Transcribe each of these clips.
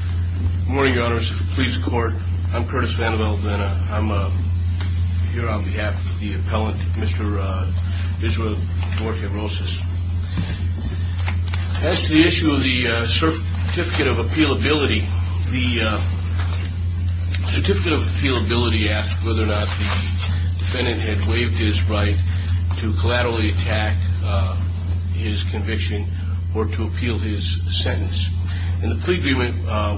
Good morning, your honors. This is the police court. I'm Curtis Vanderbilt and I'm here on behalf of the appellant, Mr. Vigil Duarte-Rosas. As to the issue of the Certificate of Appealability, the Certificate of Appealability asks whether or not the defendant had waived his right to collaterally attack his conviction or to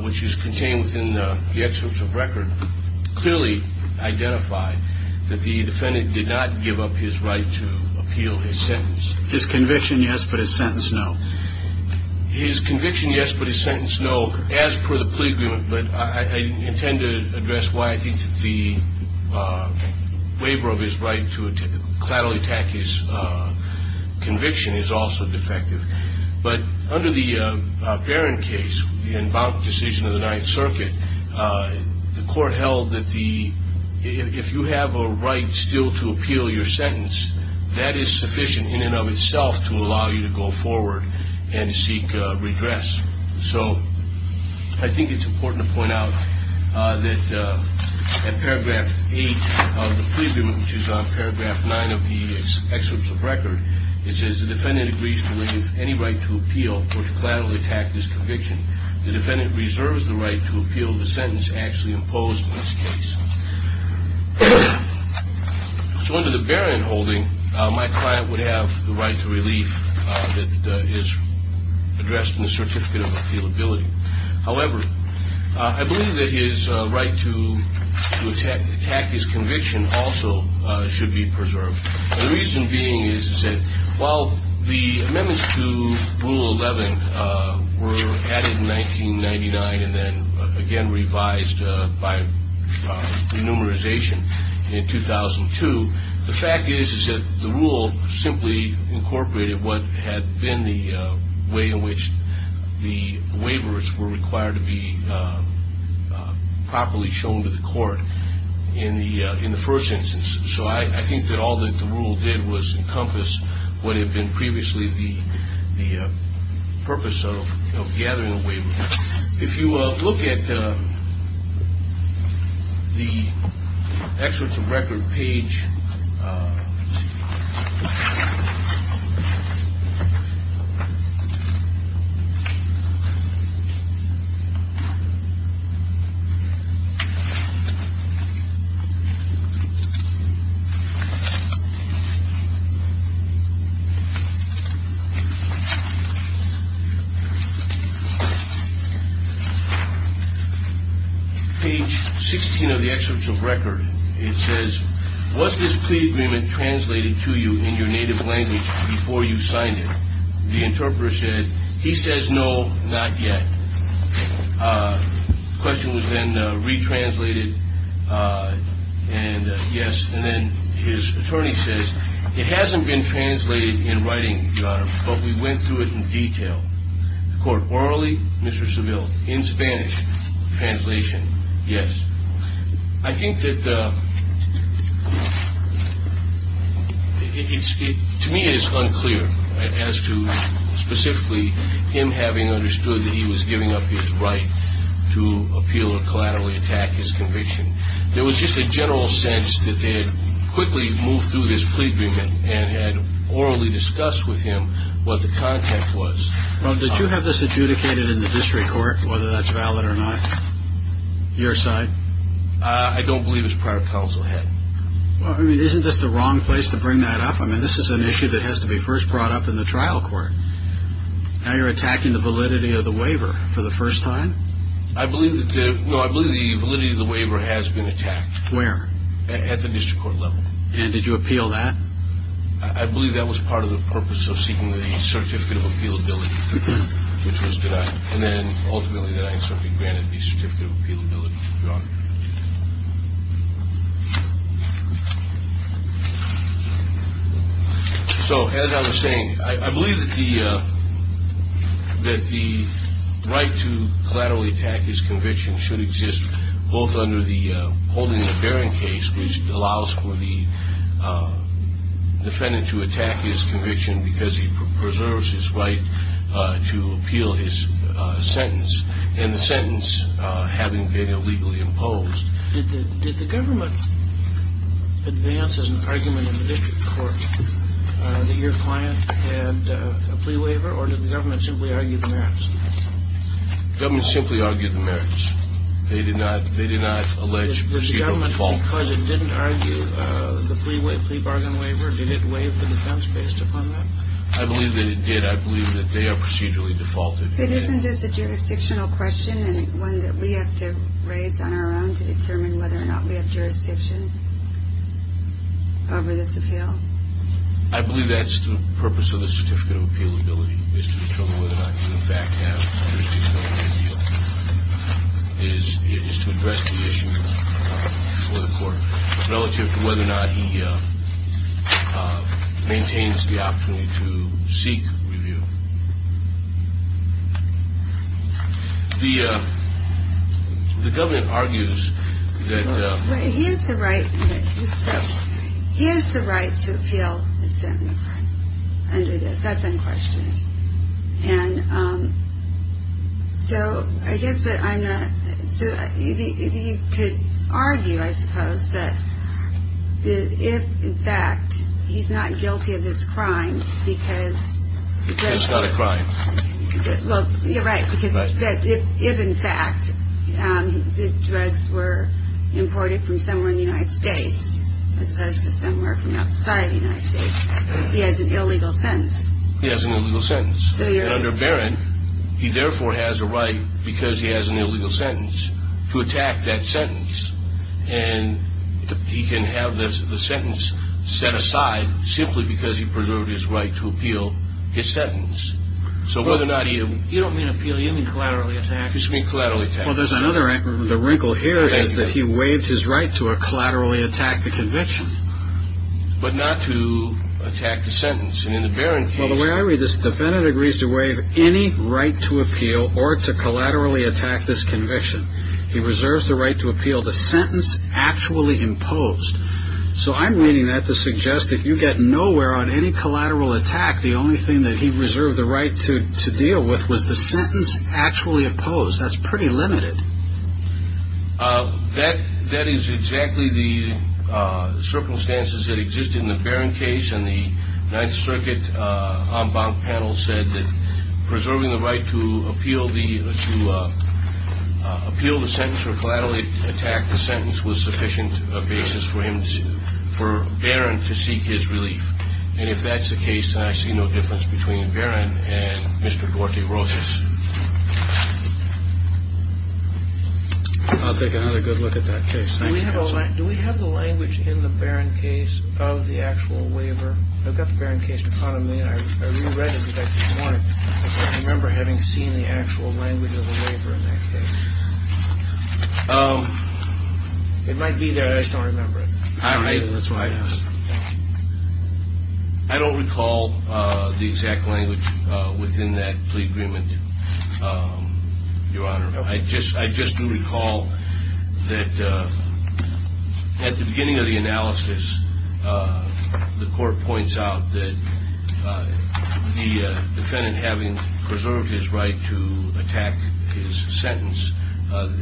which is contained within the excerpts of record, clearly identify that the defendant did not give up his right to appeal his sentence. His conviction, yes, but his sentence, no. His conviction, yes, but his sentence, no, as per the plea agreement. But I intend to address why I think the waiver of his right to collaterally attack his conviction is also defective. But under the Barron case, the inbound decision of the Ninth Circuit, the court held that if you have a right still to appeal your sentence, that is sufficient in and of itself to allow you to go forward and seek redress. So I think it's important to point out that at paragraph 8 of the plea agreement, which is on paragraph 9 of the excerpts of record, it says the defendant agrees to waive any right to appeal or collaterally attack his conviction. The defendant reserves the right to appeal the sentence actually imposed in this case. So under the Barron holding, my client would have the right to relief that is addressed in the Certificate of Appealability. However, I believe that his right to attack his conviction also should be preserved. The reason being is that while the amendments to Rule 11 were added in 1999 and then again revised by renumeration in 2002, the fact is that the rule simply incorporated what had been the way in which the waivers were required to be properly shown to the court in the first instance. So I think that all that the rule did was encompass what had been previously the purpose of gathering a waiver. If you look at the excerpts of record page 16 of the excerpts of record, it says, was this plea agreement translated to you in your native language before you signed it? The interpreter said, he says, no, not yet. The question was then re-translated and yes, and then his attorney says, it hasn't been translated in writing, Your Honor, but we went through it in detail. The court orally, Mr. Seville, in Spanish, translation, yes. I think that to me it is unclear as to specifically him having understood that he was giving up his right to appeal or collaterally attack his conviction. There was just a general sense that they had quickly moved through this plea agreement and had orally discussed with him what the content was. Well, did you have this adjudicated in the district court, whether that's valid or not? Your side? I don't believe it's prior counsel had. Well, I mean, isn't this the wrong place to bring that up? I mean, this is an issue that has to be first brought up in the trial court. Now you're attacking the validity of the waiver for the first time? I believe that, no, I didn't at the district court level. And did you appeal that? I believe that was part of the purpose of seeking the certificate of appealability, which was denied, and then ultimately that I certainly granted the certificate of appealability, Your Honor. So as I was saying, I believe that the right to collaterally attack his conviction should exist both under the holding of a hearing case, which allows for the defendant to attack his conviction because he preserves his right to appeal his sentence, and the sentence having been illegally imposed. Did the government advance an argument in the district court that your client had a plea waiver, or did the government simply argue the merits? The government simply argued the merits. They did not allege procedural default. The government didn't argue the plea bargain waiver? Did it waive the defense based upon that? I believe that it did. I believe that they are procedurally defaulted. Isn't this a jurisdictional question and one that we have to raise on our own to determine whether or not we have jurisdiction over this appeal? I believe that's the purpose of the certificate of appeal before the court relative to whether or not he maintains the opportunity to seek review. The government argues that... He has the right to appeal his sentence under this. That's unquestioned. And so I guess what I'm going to... So you could argue, I suppose, that if in fact he's not guilty of this crime because... Because it's not a crime. Well, you're right, because if in fact the drugs were imported from somewhere in the United States, as opposed to somewhere from outside the United States, he has an illegal sentence. He has an illegal sentence. And under Barron, he therefore has a right, because he has an illegal sentence, to attack that sentence. And he can have the sentence set aside simply because he preserved his right to appeal his sentence. So whether or not he... You don't mean appeal, you mean collaterally attack. You just mean collaterally attack. Well, there's another wrinkle here is that he waived his right to a collaterally attack the convention, but not to attack the sentence. And in the Barron case... Well, the way I read this, defendant agrees to waive any right to appeal or to collaterally attack this conviction. He reserves the right to appeal the sentence actually imposed. So I'm reading that to suggest that if you get nowhere on any collateral attack, the only thing that he reserved the right to deal with was the sentence actually imposed. That's pretty limited. That is exactly the circumstances that exist in the Barron case. And the Ninth Circuit en banc panel said that preserving the right to appeal the... to appeal the sentence or collaterally attack the sentence was sufficient basis for Barron to seek his relief. And if that's the case, then I see no difference between Barron and Mr. Duarte Rosas. I'll take another good look at that case. Do we have the language in the Barron case of the actual waiver? I've got the Barron case in front of me, and I re-read it because I didn't want to... I don't remember having seen the actual language of the waiver in that case. It might be there, I just don't remember it. I don't recall the exact language within that plea agreement, Your Honor. I just do recall that at the beginning of the analysis, the court points out that the defendant, having preserved his right to attack his sentence,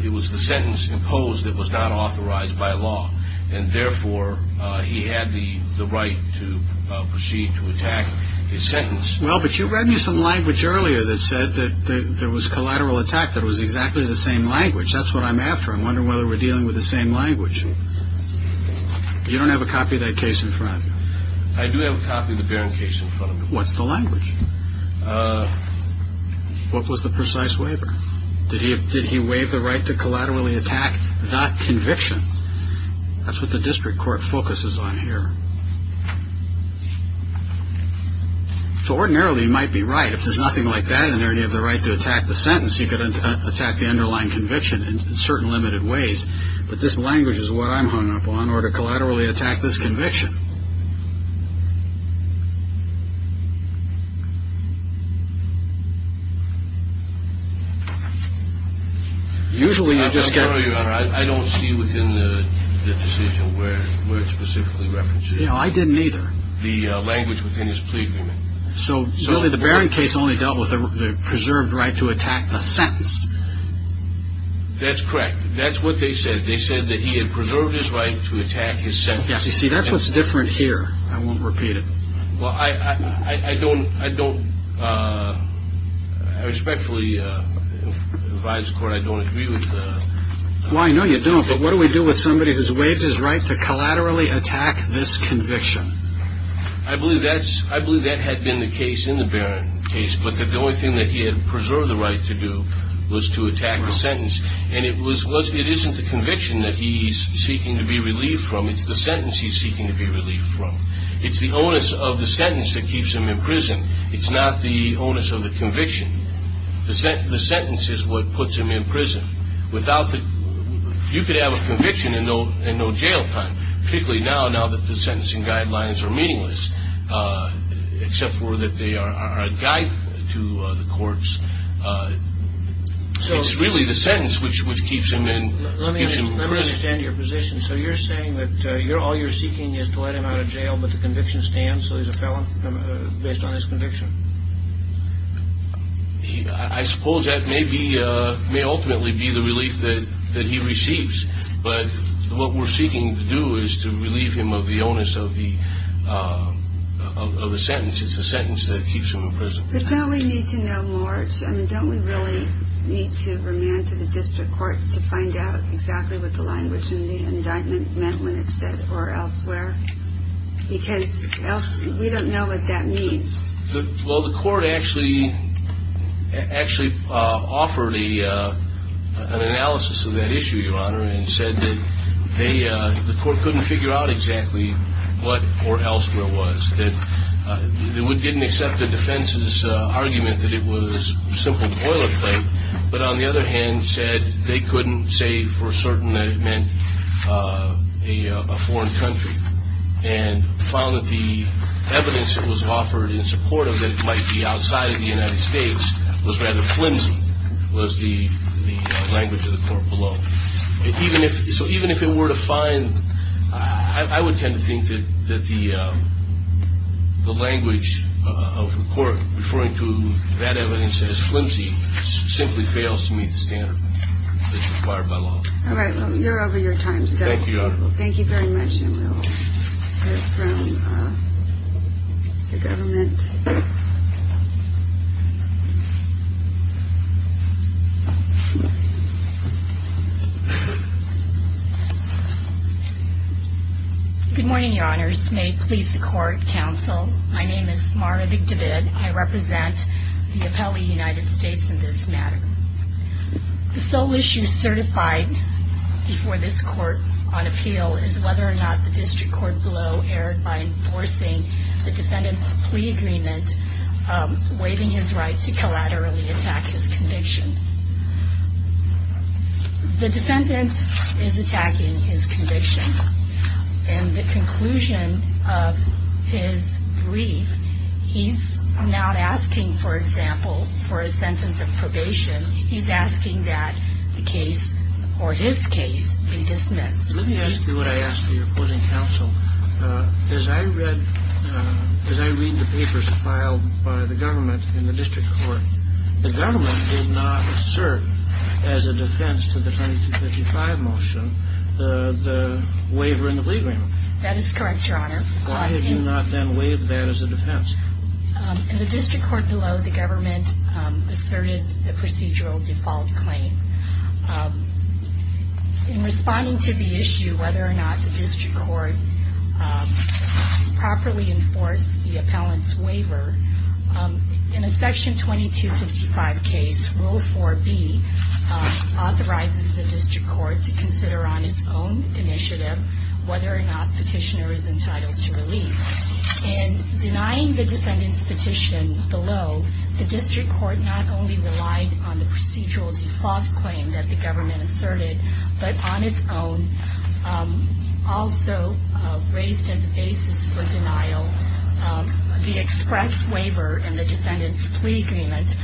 it was the sentence imposed that was not authorized by law. And therefore, he had the right to proceed to attack his sentence. Well, but you read me some language earlier that said that there was collateral attack that was exactly the same language. That's what I'm after. I'm wondering whether we're dealing with the same language. You don't have a copy of that case in front of you? I do have a copy of the Barron case in front of me. What's the language? What was the precise waiver? Did he waive the right to collaterally attack that conviction? That's what the district court focuses on here. So ordinarily, you might be right. If there's nothing like that in there, and you have the right to attack the sentence, you could attack the underlying conviction in certain limited ways. But this language is what I'm hung up on, or to collaterally attack this conviction. Usually, I don't see within the decision where it specifically references the language within this plea agreement. So really, the Barron case only dealt with the preserved right to attack the sentence. That's correct. That's what they said. They said that he had preserved his right to attack his sentence. You see, that's what's different here. I won't repeat it. Well, I respectfully advise the court I don't agree with. Well, I know you don't, but what do we do with somebody who's waived his right to collaterally attack this conviction? I believe that had been the case in the Barron case, but that the only thing that he had preserved the right to do was to attack the sentence. And it isn't the conviction that he's seeking to be relieved from. It's the sentence he's seeking to be relieved from. It's the onus of the sentence that keeps him in prison. It's not the onus of the conviction. The sentence is what puts him in prison. You could have a conviction and no jail time, particularly now that the sentencing guidelines are meaningless, except for that they are a guide to the courts. It's really the sentence which keeps him in prison. Let me understand your position. So you're saying that all you're seeking is to let him out of jail, but the conviction stands, so he's a felon based on his conviction? I suppose that may ultimately be the relief that he receives, but what we're seeking to do is to relieve him of the onus of the sentence. It's the sentence that keeps him in prison. But don't we need to know more? Don't we really need to remand to the district court to find out exactly what the language in the indictment meant when it said, or elsewhere? Because we don't know what that means. Well, the court actually offered an analysis of that issue, Your Honor, and said that the court couldn't figure out exactly what or elsewhere was. It didn't accept the defense's argument that it was simple boilerplate, but on the other hand said they couldn't say for certain that it meant a foreign country, and found that the evidence that was offered in support of it might be outside of the United States was rather flimsy, was the language of the court below. So even if it were to find, I would tend to think that the language of the court referring to that evidence as flimsy simply fails to meet the standard that's required by law. All right, well, you're over your time. Thank you very much, and we'll hear from the government. Good morning, Your Honors. May it please the court, counsel. My name is Mara Vigdavid. I represent the appellee United States in this matter. The sole issue certified before this court on appeal is whether or not the district court below erred by enforcing the defendant's plea agreement, waiving his right to collaterally attack his conviction. The defendant is attacking his conviction, and the conclusion of his brief, he's not asking, for example, for a sentence of probation. He's asking that the case or his case be dismissed. Let me ask you what I asked of your court and counsel. As I read the papers filed by the government in the district court, the government did not assert as a defense to the 2255 motion the waiver in the plea agreement. That is correct, Your Honor. Why have you not then waived that as a defense? In the district court below, the government asserted the procedural default claim. In responding to the issue whether or not the district court properly enforced the appellant's waiver, in a Section 2255 case, Rule 4B authorizes the district court to consider on its own initiative whether or not petitioner is entitled to relief. In denying the defendant's petition below, the district court not only relied on the procedural default claim that the government asserted, but on its own also raised as a basis for denial the express waiver in the defendant's plea agreement,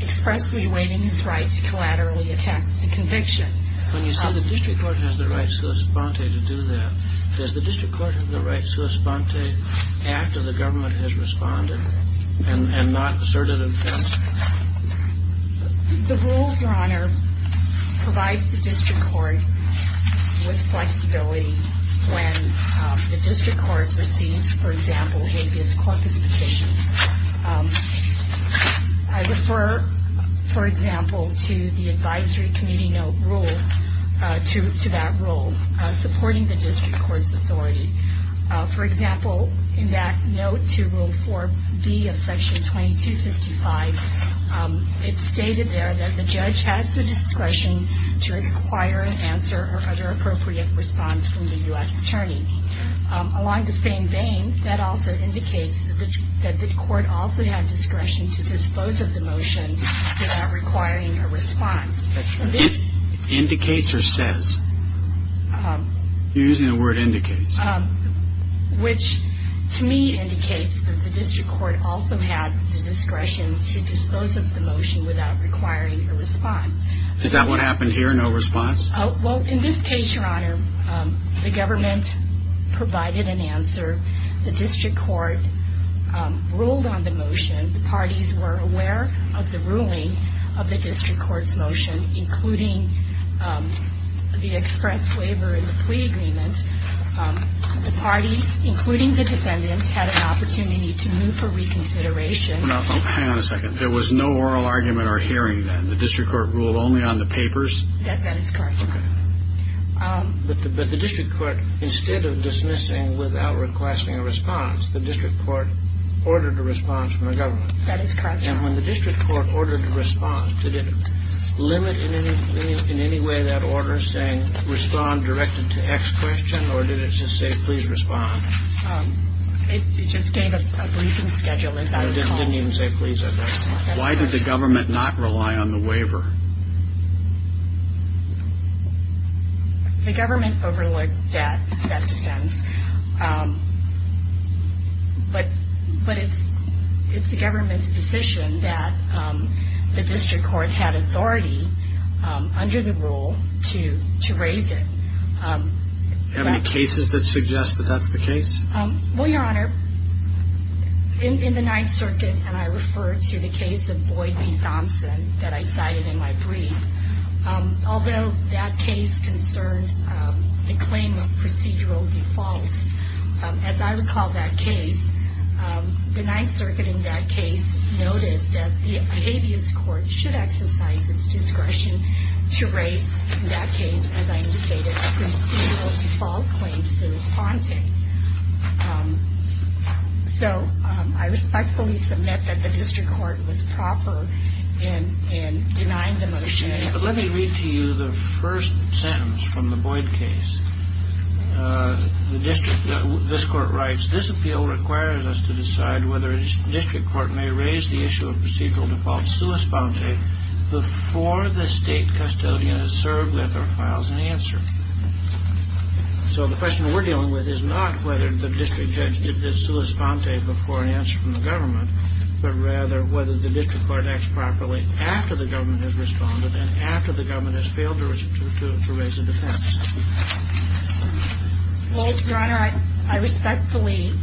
expressly waiving his right to collaterally attack the conviction. When you say the district court has the right sua sponte to do that, does the district court have the right sua sponte after the government has responded and not asserted a defense? The rule, Your Honor, provides the district court with flexibility when the district court receives, for example, habeas corpus petitions. I refer, for example, to the advisory committee note rule, to that rule, supporting the district court's authority. For example, in that note to Rule 4B of Section 2255, it's stated there that the judge has the discretion to require an answer or other appropriate response from the U.S. attorney. Along the same vein, that also indicates that the court also had discretion to dispose of the motion without requiring a response. Indicates or says? You're using the word indicates. Which, to me, indicates that the district court also had the discretion to dispose of the motion without requiring a response. Is that what happened here, no response? Well, in this case, Your Honor, the government provided an answer. The district court ruled on the motion. The parties were aware of the ruling of the district court's motion, including the express waiver and the plea agreement. The parties, including the defendant, had an opportunity to move for reconsideration. Hang on a second. There was no oral argument or hearing then. The district court ruled only on the papers? That is correct, Your Honor. But the district court, instead of dismissing without requesting a response, the district court ordered a response from the government. That is correct, Your Honor. And when the district court ordered a response, did it limit in any way that order saying respond directed to X question, or did it just say please respond? It just gave a briefing schedule, as I recall. It didn't even say please or that. Why did the government not rely on the waiver? The government overlooked that defense, but it's the government's decision that the district court had authority under the rule to raise it. Do you have any cases that suggest that that's the case? Well, Your Honor, in the Ninth Circuit, and I refer to the case of Boyd v. Thompson that I cited in my brief, although that case concerned a claim of procedural default, as I recall that case, the Ninth Circuit in that case noted that the habeas court should exercise its discretion to raise, in that case, as I indicated, procedural default claims sua sponte. So I respectfully submit that the district court was proper in denying the motion. But let me read to you the first sentence from the Boyd case. This court writes, This appeal requires us to decide whether a district court may raise the issue of procedural default sua sponte before the state custodian is served with or files an answer. So the question we're dealing with is not whether the district judge did sua sponte before an answer from the government, but rather whether the district court acts properly after the government has responded and after the government has failed to raise a defense. Well, Your Honor, I respectfully –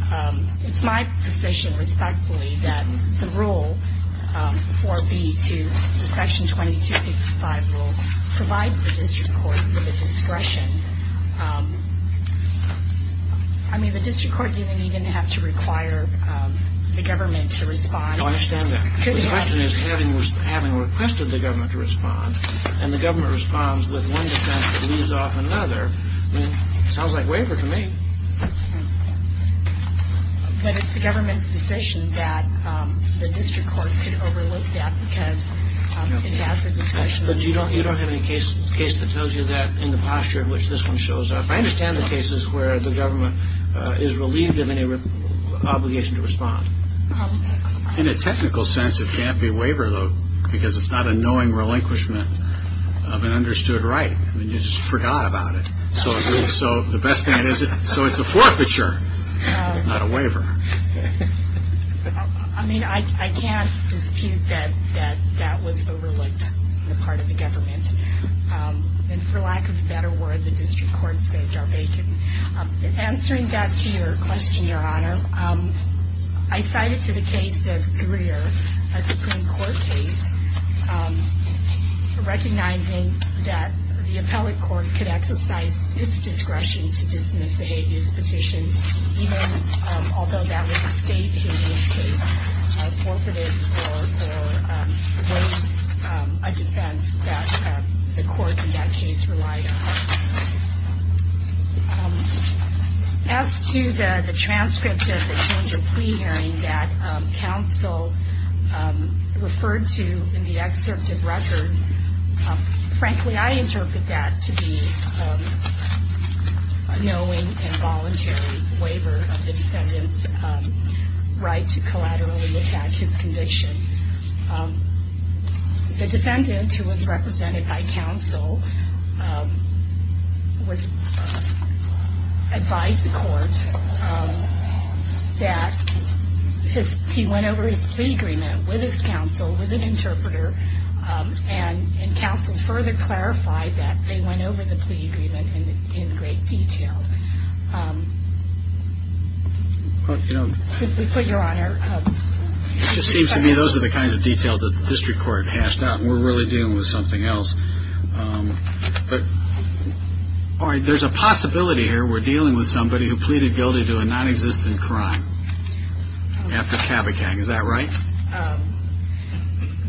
it's my position, respectfully, that the rule 4B to Section 2255 provides the district court with a discretion. I mean, the district court didn't even have to require the government to respond. I understand that. The question is, having requested the government to respond, and the government responds with one defense that leaves off another, I mean, it sounds like waiver to me. But it's the government's position that the district court could overlook that because it has a discretion. But you don't have any case that tells you that in the posture in which this one shows up. I understand the cases where the government is relieved of any obligation to respond. In a technical sense, it can't be waiver, though, because it's not a knowing relinquishment of an understood right. I mean, you just forgot about it. So the best thing is, so it's a forfeiture, not a waiver. I mean, I can't dispute that that was overlooked on the part of the government. And for lack of a better word, the district court saved our bacon. Answering back to your question, Your Honor, I cited to the case of Greer, a Supreme Court case, recognizing that the appellate court could exercise its discretion to dismiss a habeas petition, even although that was a state habeas case, forfeited or waived a defense that the court in that case relied on. As to the transcript of the change of pre-hearing that counsel referred to in the excerpt of record, frankly, I interpret that to be a knowing and voluntary waiver of the defendant's right to collaterally attack his conviction. The defendant, who was represented by counsel, advised the court that he went over his plea agreement with his counsel, was an interpreter, and counsel further clarified that they went over the plea agreement in great detail. Simply put, Your Honor. It just seems to me those are the kinds of details that the district court hashed out, and we're really dealing with something else. But there's a possibility here we're dealing with somebody who pleaded guilty to a nonexistent crime after CABACAC, is that right?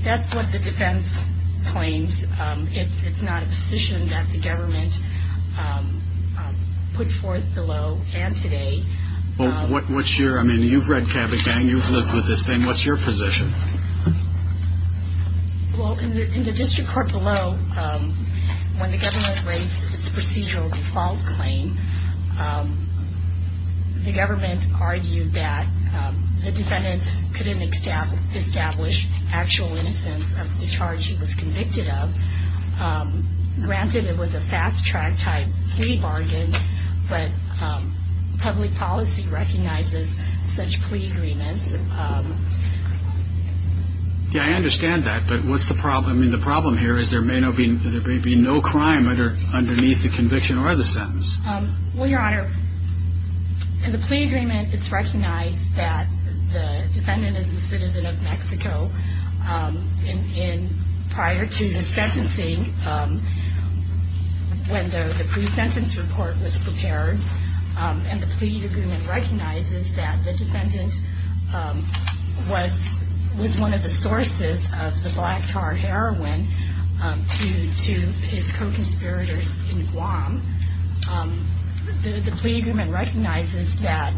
That's what the defense claims. It's not a position that the government put forth below and today. Well, what's your, I mean, you've read CABACAC, you've lived with this thing. What's your position? Well, in the district court below, when the government raised its procedural default claim, the government argued that the defendant couldn't establish actual innocence of the charge he was convicted of. Granted, it was a fast-track type plea bargain, but public policy recognizes such plea agreements. Yeah, I understand that, but what's the problem? I mean, the problem here is there may be no crime underneath the conviction or the sentence. Well, Your Honor, in the plea agreement, it's recognized that the defendant is a citizen of Mexico. And prior to the sentencing, when the pre-sentence report was prepared, and the plea agreement recognizes that the defendant was one of the sources of the black tar heroin to his co-conspirators in Guam. The plea agreement recognizes that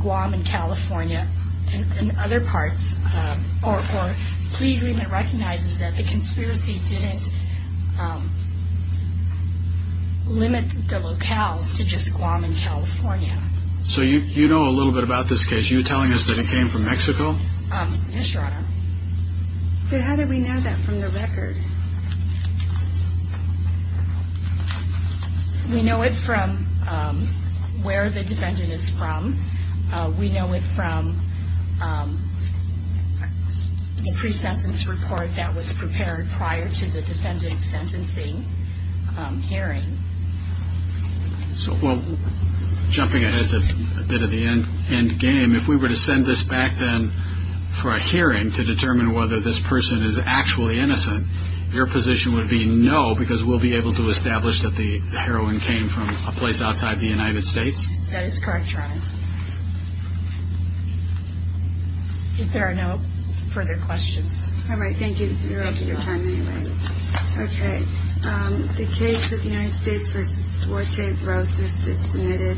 Guam and California and other parts, or plea agreement recognizes that the conspiracy didn't limit the locales to just Guam and California. So you know a little bit about this case? You're telling us that it came from Mexico? Yes, Your Honor. But how do we know that from the record? We know it from where the defendant is from. We know it from the pre-sentence report that was prepared prior to the defendant's sentencing hearing. So, well, jumping ahead to a bit of the end game, if we were to send this back then for a hearing to determine whether this person is actually innocent, your position would be no, because we'll be able to establish that the heroin came from a place outside the United States? That is correct, Your Honor. If there are no further questions. All right, thank you for your time anyway. Okay, the case of the United States v. Duarte Rosas is submitted.